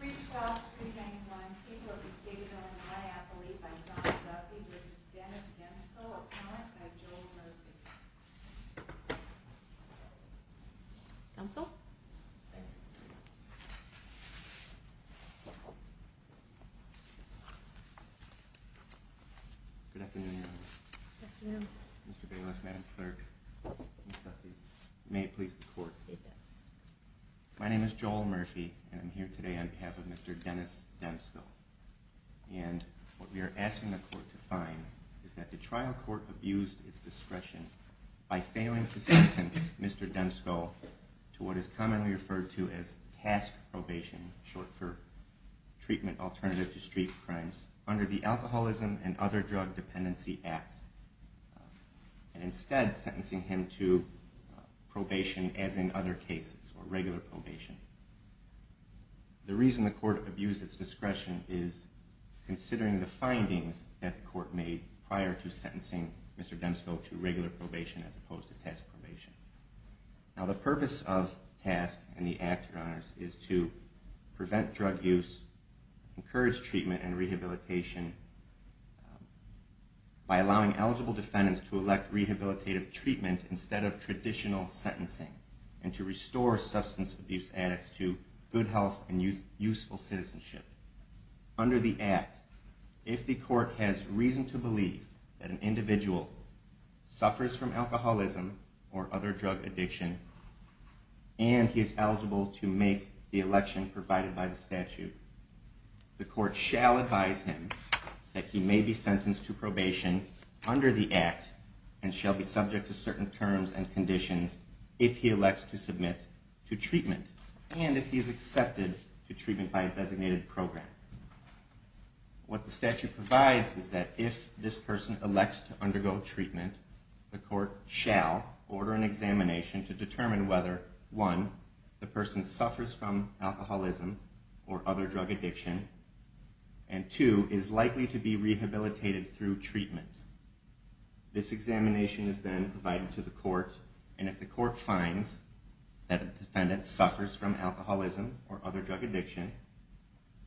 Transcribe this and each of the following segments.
312-391, People of the State of Illinois Appellee by John Duffy v. Demsco, Appellant by Joel Murphy Counsel? Good afternoon, Your Honor. Good afternoon. Mr. Bayless, Madam Clerk, Mr. Duffy, may it please the Court. It does. My name is Joel Murphy, and I'm here today on behalf of Mr. Dennis Demsco. And what we are asking the Court to find is that the trial court abused its discretion by failing to sentence Mr. Demsco to what is commonly referred to as task probation, short for treatment alternative to street crimes, under the Alcoholism and Probation as in other cases, or regular probation. The reason the Court abused its discretion is considering the findings that the Court made prior to sentencing Mr. Demsco to regular probation as opposed to task probation. Now, the purpose of task in the Act, Your Honors, is to prevent drug use, encourage treatment and rehabilitation by allowing eligible defendants to elect rehabilitative treatment instead of traditional sentencing, and to restore substance abuse addicts to good health and useful citizenship. Under the Act, if the Court has reason to believe that an individual suffers from alcoholism or other drug addiction, and he is eligible to make the election provided by the statute, the Court shall advise him that he may be sentenced to probation under the Act and shall be subject to certain terms and conditions if he elects to submit to treatment and if he is accepted to treatment by a designated program. What the statute provides is that if this person elects to undergo treatment, the Court shall order an examination to determine whether 1. the person suffers from alcoholism or other drug addiction and 2. is likely to be rehabilitated through treatment. This examination is then provided to the Court, and if the Court finds that a defendant suffers from alcoholism or other drug addiction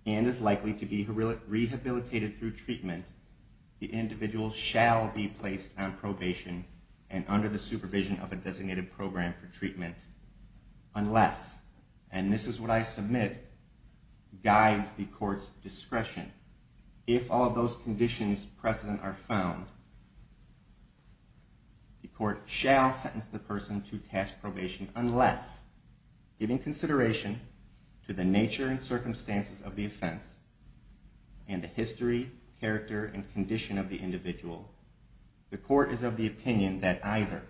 and is likely to be rehabilitated through treatment, the individual shall be placed on probation and under the supervision of a designated program for treatment unless, and this is what I submit, guides the Court's discretion. If all those conditions precedent are found, the Court shall sentence the person to task probation unless, given consideration to the nature and circumstances of the offense and the history, character, and condition of the individual, the Court is of the opinion that either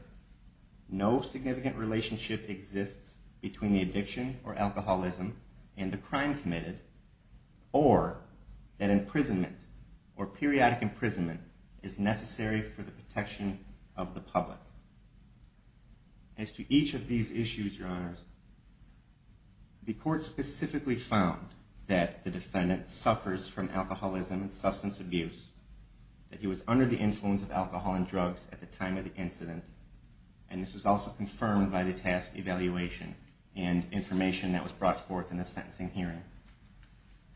no significant relationship exists between the addiction or alcoholism and the crime committed or that imprisonment or periodic imprisonment is necessary for the protection of the public. As to each of these issues, Your Honors, the Court specifically found that the defendant suffers from alcoholism and substance abuse, that he was under the influence of alcohol and drugs at the time of the incident, and this was also confirmed by the task evaluation and information that was brought forth in the sentencing hearing.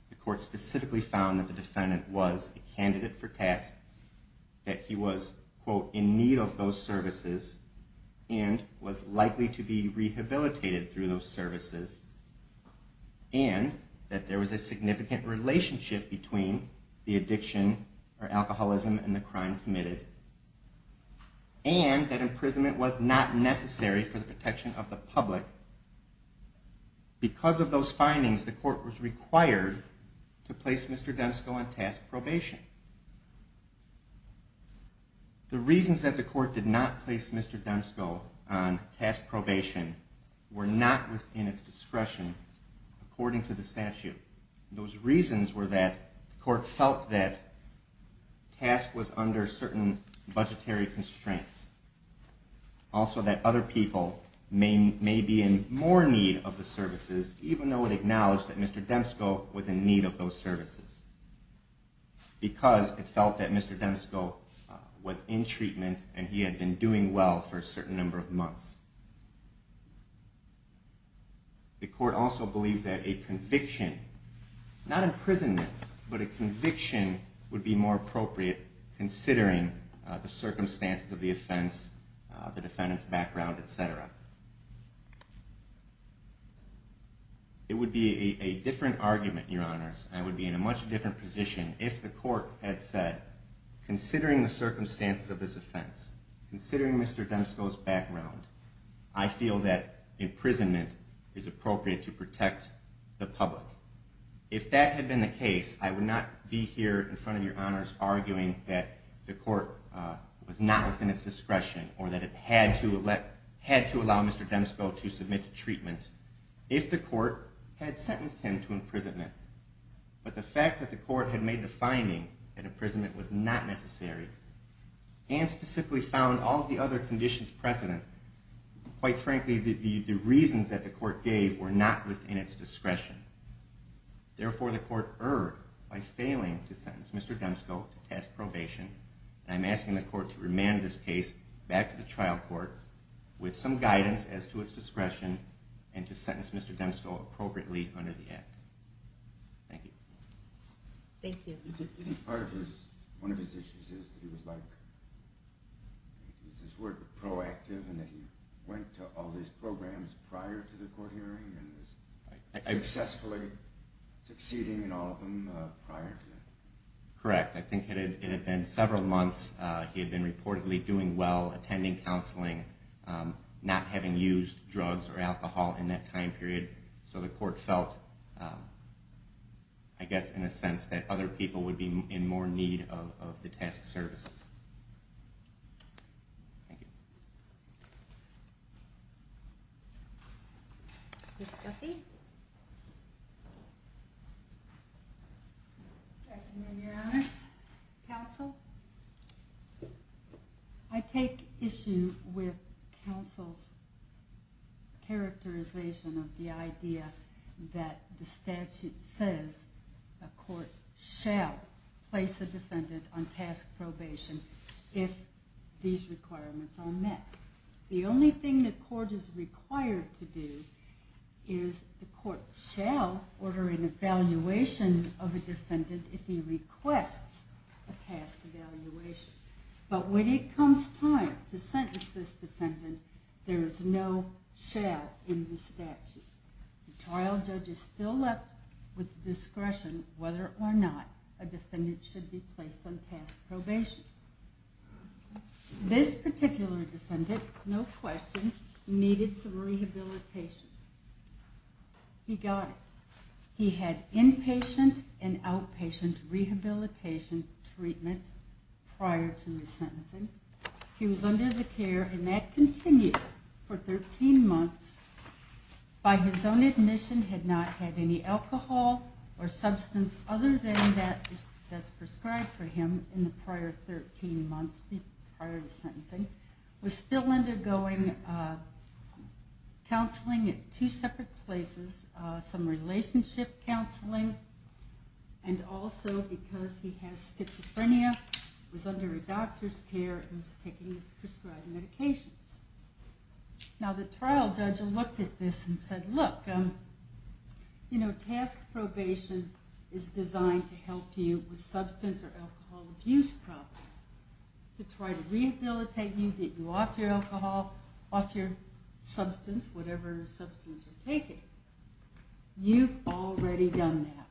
The Court specifically found that the defendant was a candidate for task, that he was, quote, in need of those services and was likely to be and that imprisonment was not necessary for the protection of the public. Because of those findings, the Court was required to place Mr. Densko on task probation. The reasons that the Court did not place Mr. Densko on task probation were not within its discretion according to the statute. Those reasons were that the Court felt that task was under certain budgetary constraints. Also that other people may be in more need of the services, even though it acknowledged that Mr. Densko was in need of those services, because it felt that Mr. Densko was in treatment and he had been doing well for a certain number of months. The Court also believed that a conviction, not imprisonment, but a conviction would be more appropriate, considering the circumstances of the offense, the defendant's background, etc. It would be a different argument, Your Honors, and I would be in a much different position if the Court had said, considering the circumstances of this offense, considering Mr. Densko's background, I feel that imprisonment is appropriate to protect the public. If that had been the case, I would not be here in front of Your Honors arguing that the Court was not within its discretion or that it had to allow Mr. Densko to submit to treatment if the Court had sentenced him to imprisonment. But the fact that the Court had made the finding that imprisonment was not necessary and specifically found all of the other conditions precedent, quite frankly, the reasons that the Court gave were not within its discretion. Therefore, the Court erred by failing to sentence Mr. Densko to task probation, and I'm asking the Court to remand this case back to the trial court with some guidance as to its discretion and to sentence Mr. Densko appropriately under the Act. Thank you. Thank you. Do you think part of his, one of his issues is that he was like, is his work proactive and that he went to all these programs prior to the court hearing and was successfully succeeding in all of them prior to that? Correct. I think it had been several months. He had been reportedly doing well, attending counseling, not having used drugs or alcohol in that time period. So the Court felt, I guess, in a sense that other people would be in more need of the task services. Thank you. Ms. Duffy? Good afternoon, Your Honors. Counsel? I take issue with counsel's characterization of the idea that the statute says a court shall place a defendant on task probation if these requirements are met. The only thing the court is required to do is the court shall order an evaluation of a defendant if he requests a task evaluation. But when it comes time to sentence this defendant, there is no shall in the statute. The trial judge is still left with discretion whether or not a defendant should be placed on task probation. This particular defendant, no question, needed some rehabilitation. He got it. He had inpatient and outpatient rehabilitation treatment prior to the sentencing. He was under the care and that continued for 13 months. By his own admission, he had not had any alcohol or substance other than that prescribed for him in the prior 13 months prior to sentencing. He was still undergoing counseling at two separate places, some relationship counseling, and also because he has schizophrenia, he was under a doctor's care and was taking his prescribed medications. Now the trial judge looked at this and said, look, task probation is designed to help you with substance or alcohol abuse problems, to try to rehabilitate you, get you off your alcohol, off your substance, whatever substance you're taking. You've already done that.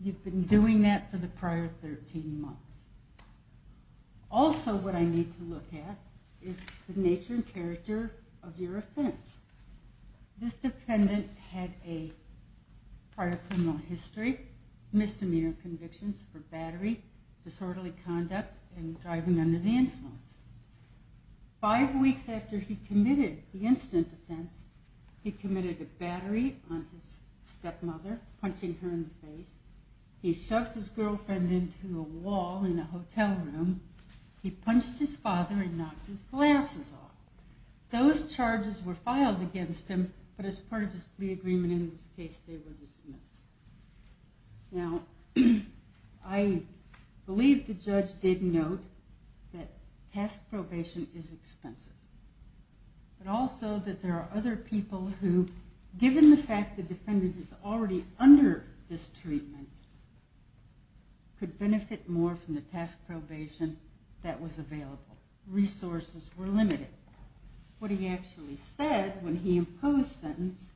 You've been doing that for the prior 13 months. Also what I need to look at is the nature and character of your offense. This defendant had a part of criminal history, misdemeanor convictions for battery, disorderly conduct, and driving under the influence. Five weeks after he committed the incident offense, he committed a battery on his stepmother, punching her in the face. He shoved his girlfriend into a wall in a hotel room. He punched his father and knocked his glasses off. Those charges were filed against him, but as part of the agreement in this case, they were dismissed. Now I believe the judge did note that task probation is expensive. But also that there are other people who, given the fact the defendant is already under this treatment, could benefit more from the task probation that was available. Resources were limited. What he actually said when he imposed sentence,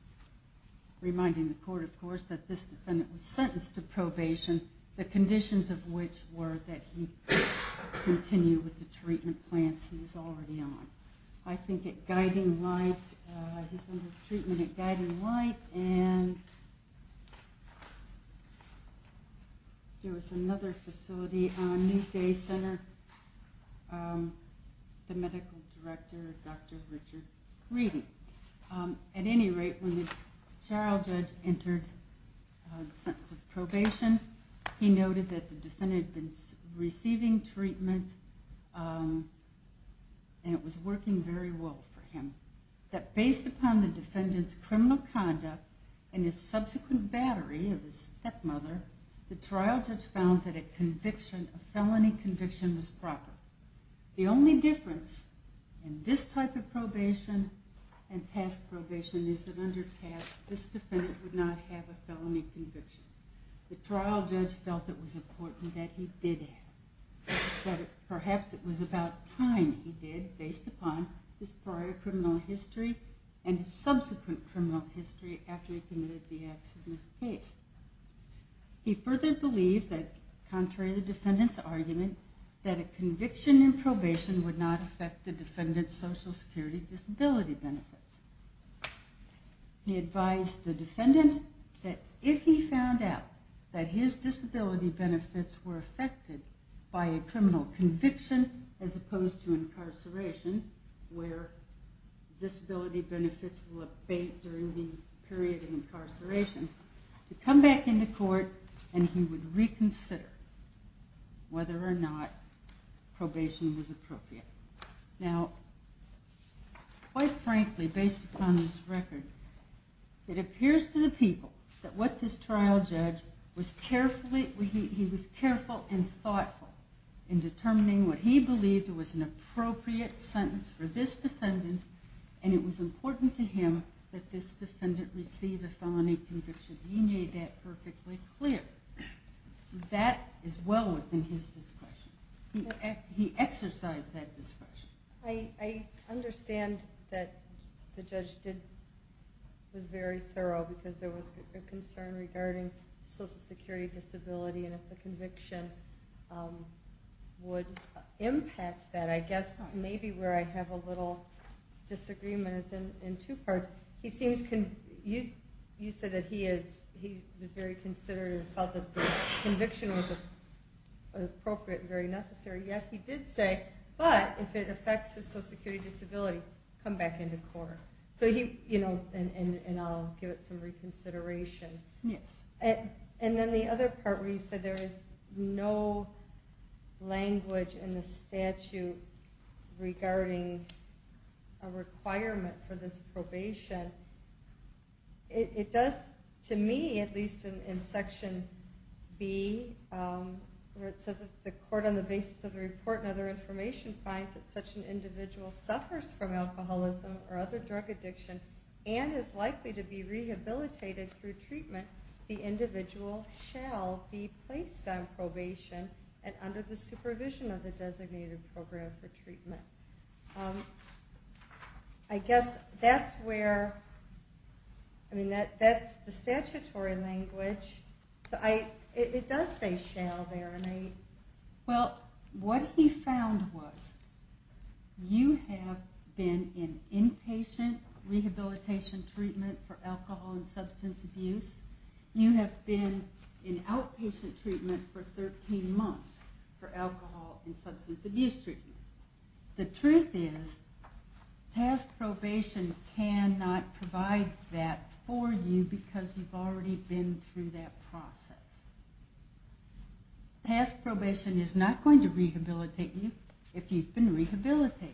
reminding the court, of course, that this defendant was sentenced to probation, the conditions of which were that he continue with the treatment plans he was already on. I think at Guiding Light, he's under treatment at Guiding Light. And there was another facility, New Day Center, the medical director, Dr. Richard Reedy. At any rate, when the trial judge entered the sentence of probation, he noted that the defendant had been receiving treatment and it was working very well for him. That based upon the defendant's criminal conduct and his subsequent battery of his stepmother, the trial judge found that a conviction, a felony conviction, was proper. The only difference in this type of probation and task probation is that under task, this defendant would not have a felony conviction. The trial judge felt it was important that he did have. But perhaps it was about time he did, based upon his prior criminal history and his subsequent criminal history after he committed the accidentous case. He further believed that, contrary to the defendant's argument, that a conviction in probation would not affect the defendant's social security disability benefits. He advised the defendant that if he found out that his disability benefits were affected by a criminal conviction as opposed to incarceration, where disability benefits will abate during the period of incarceration, to come back into court and he would reconsider whether or not probation was appropriate. Now, quite frankly, based upon this record, it appears to the people that what this trial judge was careful and thoughtful in determining what he believed was an appropriate sentence for this defendant and it was important to him that this defendant receive a felony conviction. He made that perfectly clear. That is well within his discretion. He exercised that discretion. I understand that the judge was very thorough because there was a concern regarding social security disability and if the conviction would impact that. I guess maybe where I have a little disagreement is in two parts. You said that he was very considerate and felt that the conviction was appropriate and very necessary, yet he did say, but if it affects his social security disability, come back into court. And I'll give it some reconsideration. Yes. And then the other part where you said there is no language in the statute regarding a requirement for this probation, it does, to me, at least in Section B, where it says the court on the basis of the report and other information finds that such an individual suffers from alcoholism or other drug addiction and is likely to be rehabilitated through treatment, the individual shall be placed on probation and under the supervision of the designated program for treatment. I guess that's where, I mean, that's the statutory language. It does say shall there. Well, what he found was you have been in inpatient rehabilitation treatment for alcohol and substance abuse. You have been in outpatient treatment for 13 months for alcohol and substance abuse treatment. The truth is task probation cannot provide that for you because you've already been through that process. Task probation is not going to rehabilitate you if you've been rehabilitated.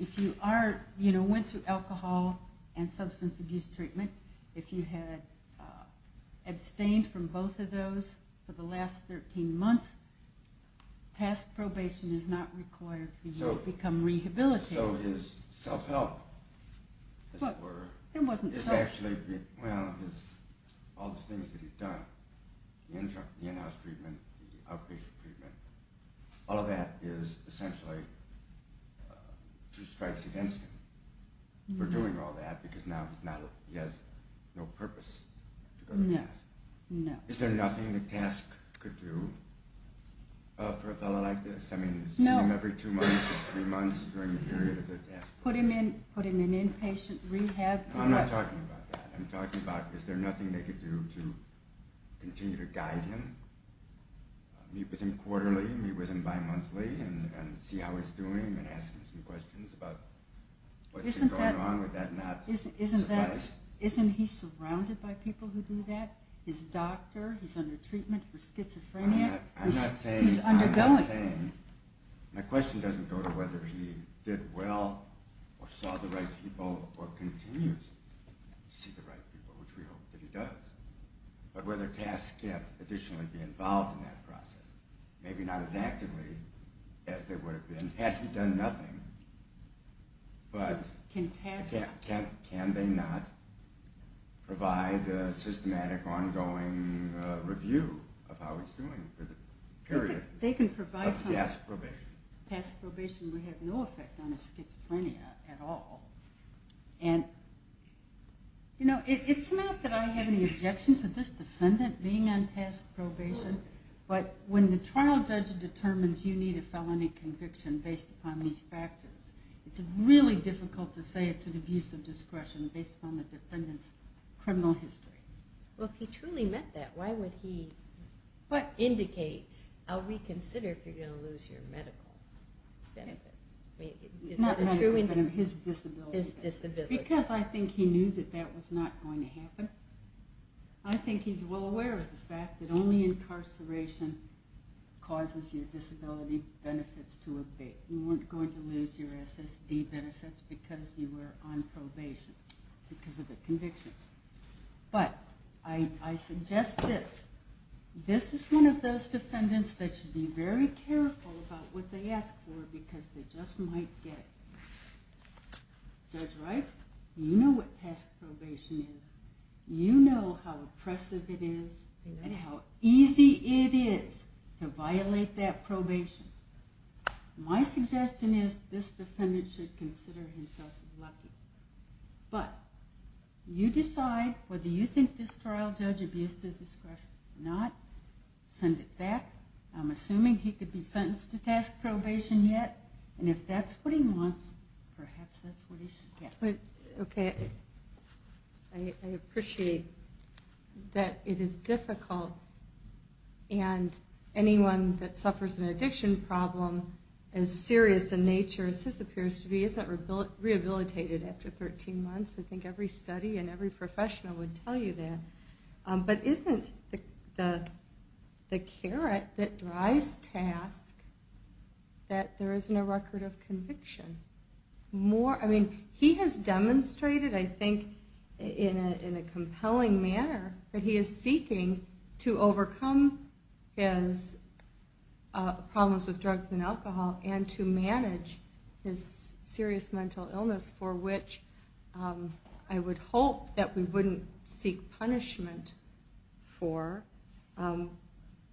If you are, you know, went through alcohol and substance abuse treatment, if you had abstained from both of those for the last 13 months, task probation is not required for you to become rehabilitated. So his self-help, as it were, is actually, well, all the things that he's done, the in-house treatment, the outpatient treatment, all of that is essentially two strikes against him for doing all that because now he has no purpose to go to task. No, no. Is there nothing that task could do for a fellow like this? I mean, see him every two months or three months during the period of the task? Put him in inpatient rehab. I'm not talking about that. I'm talking about is there nothing they could do to continue to guide him, meet with him quarterly, meet with him bimonthly, and see how he's doing and ask him some questions about what's been going on. Would that not suffice? Isn't he surrounded by people who do that? His doctor, he's under treatment for schizophrenia. I'm not saying. He's undergoing. I'm not saying. My question doesn't go to whether he did well or saw the right people or continues to see the right people, which we hope that he does, but whether tasks can additionally be involved in that process, maybe not as actively as they would have been had he done nothing, but can they not provide a systematic ongoing review of how he's doing for the period. They can provide something. Task probation. Task probation would have no effect on his schizophrenia at all. It's not that I have any objection to this defendant being on task probation, but when the trial judge determines you need a felony conviction based upon these factors, it's really difficult to say it's an abuse of discretion based upon the defendant's criminal history. Well, if he truly meant that, why would he indicate, I'll reconsider if you're going to lose your medical benefits. Not medical, but his disability benefits. His disability benefits. Because I think he knew that that was not going to happen. I think he's well aware of the fact that only incarceration causes your disability benefits to abate. You weren't going to lose your SSD benefits because you were on probation because of a conviction. But I suggest this. This is one of those defendants that should be very careful about what they ask for because they just might get it. Judge Wright, you know what task probation is. You know how oppressive it is and how easy it is to violate that probation. My suggestion is this defendant should consider himself lucky. But you decide whether you think this trial judge abused his discretion or not. Send it back. I'm assuming he could be sentenced to task probation yet, and if that's what he wants, perhaps that's what he should get. Okay. I appreciate that it is difficult, and anyone that suffers an addiction problem as serious in nature as this is debilitated after 13 months. I think every study and every professional would tell you that. But isn't the carrot that drives task that there isn't a record of conviction? He has demonstrated, I think, in a compelling manner, that he is seeking to overcome his problems with drugs and alcohol and to manage his serious mental illness, for which I would hope that we wouldn't seek punishment for,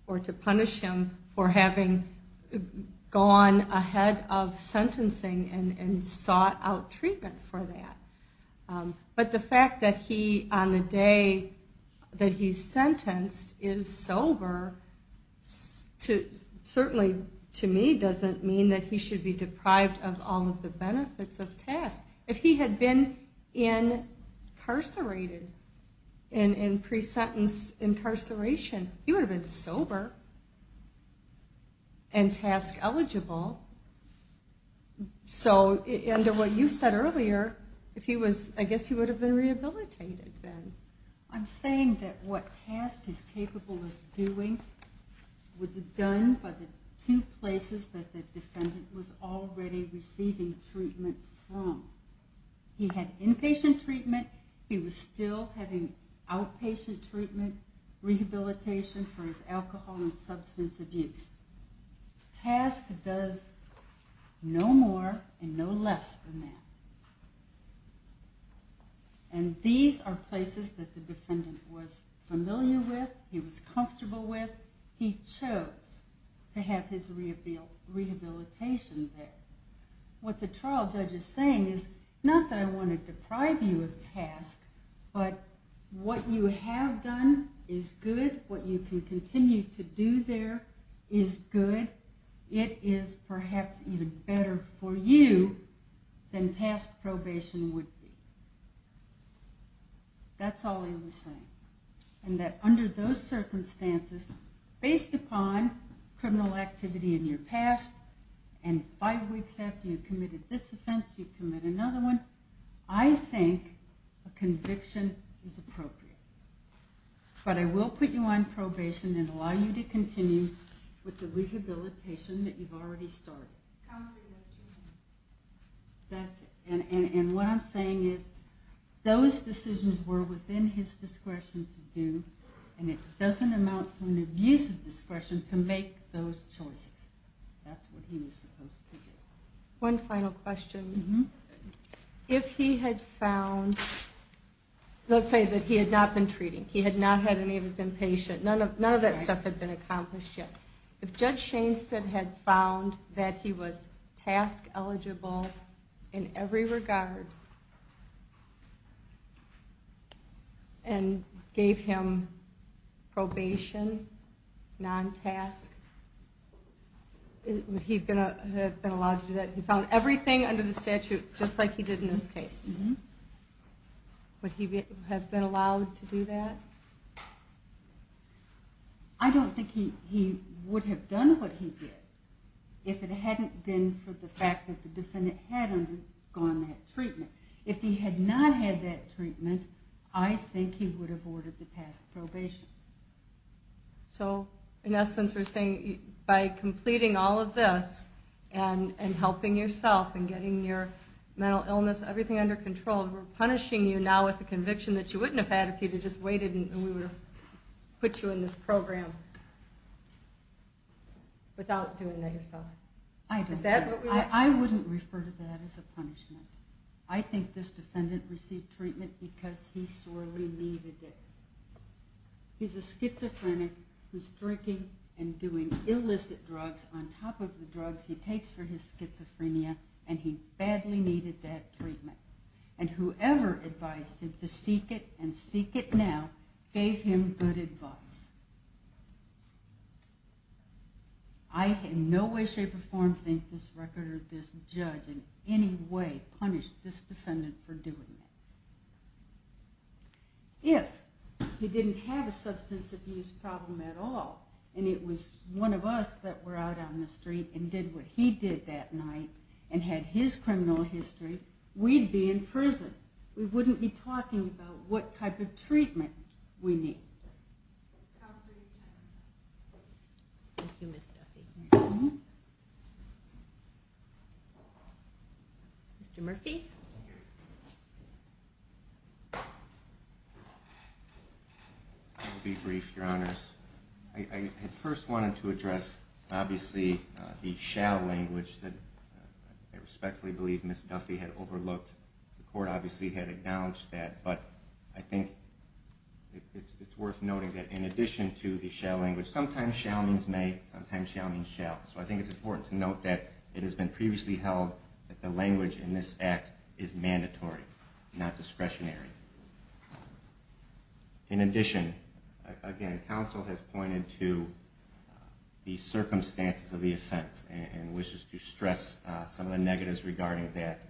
or to punish him for having gone ahead of sentencing and sought out treatment for that. But the fact that he, on the day that he's sentenced, is sober, certainly, to me, doesn't mean that he should be deprived of all of the benefits of task. If he had been incarcerated in pre-sentence incarceration, he would have been sober and task eligible. So, under what you said earlier, I guess he would have been rehabilitated then. I'm saying that what task is capable of doing was done by the two places that the defendant was already receiving treatment from. He had inpatient treatment. He was still having outpatient treatment, rehabilitation for his alcohol and substance abuse. Task does no more and no less than that. And these are places that the defendant was familiar with, he was comfortable with. He chose to have his rehabilitation there. What the trial judge is saying is, not that I want to deprive you of task, but what you have done is good. What you can continue to do there is good. It is perhaps even better for you than task probation would be. That's all he was saying. And that under those circumstances, based upon criminal activity in your past, and five weeks after you committed this offense, you commit another one, I think a conviction is appropriate. But I will put you on probation and allow you to continue with the rehabilitation that you've already started. Counsel, you have two minutes. That's it. And what I'm saying is, those decisions were within his discretion to do, and it doesn't amount to an abuse of discretion to make those choices. That's what he was supposed to do. One final question. If he had found, let's say that he had not been treating, he had not had any of his inpatient, none of that stuff had been accomplished yet. If Judge Shainstead had found that he was task eligible in every regard and gave him probation, non-task, would he have been allowed to do that? He found everything under the statute just like he did in this case. Would he have been allowed to do that? I don't think he would have done what he did if it hadn't been for the fact that the defendant had undergone that treatment. If he had not had that treatment, I think he would have ordered the task probation. So, in essence, we're saying, by completing all of this and helping yourself and getting your mental illness, everything under control, we're punishing you now with the conviction that you wouldn't have had if you had just waited and we would have put you in this program without doing that yourself. I wouldn't refer to that as a punishment. I think this defendant received treatment because he sorely needed it. He's a schizophrenic who's drinking and doing illicit drugs on top of the drugs he takes for his schizophrenia and he badly needed that treatment. And whoever advised him to seek it and seek it now, gave him good advice. I in no way, shape, or form think this record or this judge in any way punished this defendant for doing that. If he didn't have a substance abuse problem at all, and it was one of us that were out on the street and did what he did that night and had his criminal history, we'd be in prison. We wouldn't be talking about what type of treatment we need. Thank you, Ms. Duffy. Mr. Murphy? I'll be brief, Your Honors. I first wanted to address, obviously, the shall language that I respectfully believe Ms. Duffy had overlooked. The court obviously had acknowledged that, but I think it's worth noting that in addition to the shall language, sometimes shall means may, sometimes shall means shall. So I think it's important to note that it has been previously held that the language in this act is mandatory, not discretionary. In addition, again, counsel has pointed to the circumstances of the offense and wishes to stress some of the negatives regarding that.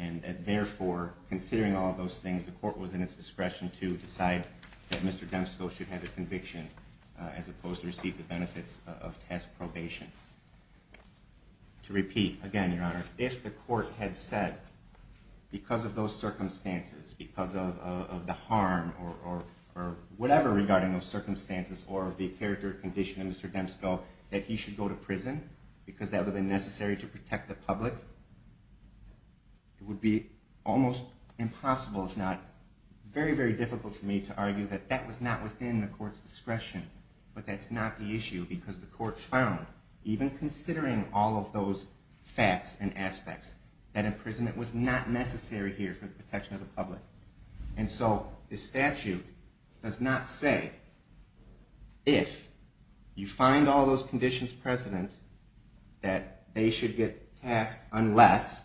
And therefore, considering all those things, the court was in its discretion to decide that Mr. Demsko should have a conviction as opposed to receive the benefits of test probation. To repeat, again, Your Honors, if the court had said because of those circumstances, because of the harm or whatever regarding those circumstances or the character condition of Mr. Demsko that he should go to prison because that would have been necessary to protect the public, it would be almost impossible, if not very, very difficult for me to argue that that was not within the court's discretion, but that's not the issue because the court found, even considering all of those facts and aspects, that imprisonment was not necessary here for the protection of the public. And so the statute does not say if you find all those conditions precedent that they should get tasked unless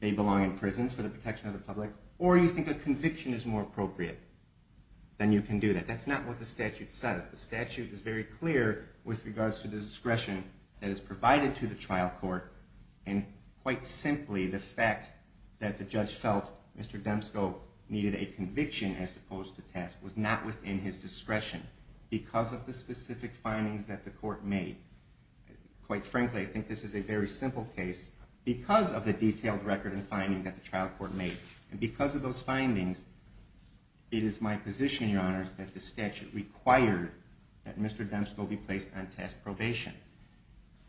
they belong in prison for the protection of the public or you think a conviction is more appropriate, then you can do that. But that's not what the statute says. The statute is very clear with regards to the discretion that is provided to the trial court and quite simply the fact that the judge felt Mr. Demsko needed a conviction as opposed to test was not within his discretion because of the specific findings that the court made. Quite frankly, I think this is a very simple case because of the detailed record and finding that the trial court made. And because of those findings, it is my position, Your Honors, that the statute required that Mr. Demsko be placed on task probation.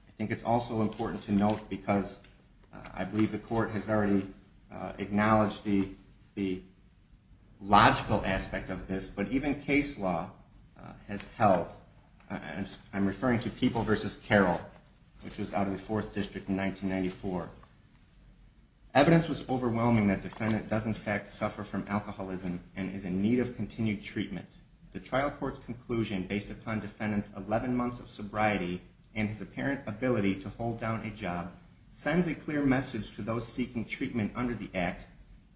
I think it's also important to note, because I believe the court has already acknowledged the logical aspect of this, but even case law has held, and I'm referring to People v. Carroll, which was out of the Fourth District in 1994. Evidence was overwhelming that defendant does in fact suffer from alcoholism and is in need of continued treatment. The trial court's conclusion, based upon defendant's 11 months of sobriety and his apparent ability to hold down a job, sends a clear message to those seeking treatment under the Act.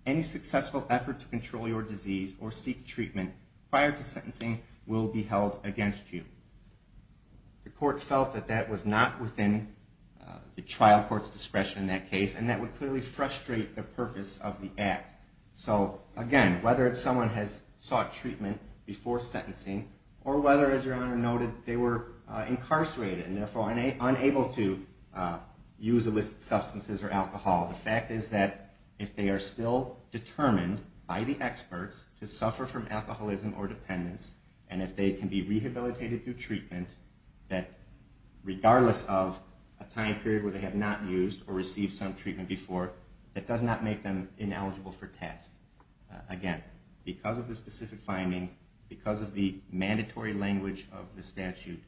Any successful effort to control your disease or seek treatment prior to sentencing will be held against you. The court felt that that was not within the trial court's discretion in that case and that would clearly frustrate the purpose of the Act. So again, whether someone has sought treatment before sentencing or whether, as Your Honor noted, they were incarcerated and therefore unable to use illicit substances or alcohol, the fact is that if they are still determined by the experts to suffer from alcoholism or dependence and if they can be rehabilitated through treatment, that regardless of a time period where they have not used or received some treatment before, that does not make them ineligible for task. Again, because of the specific findings, because of the mandatory language of the statute,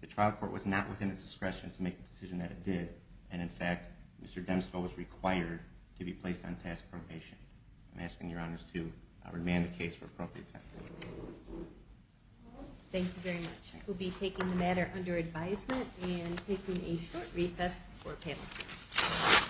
the trial court was not within its discretion to make the decision that it did, and in fact Mr. Demsko was required to be placed on task probation. I'm asking Your Honors to remand the case for appropriate sentencing. Thank you very much. We'll be taking the matter under advisement and taking a short recess for a panel.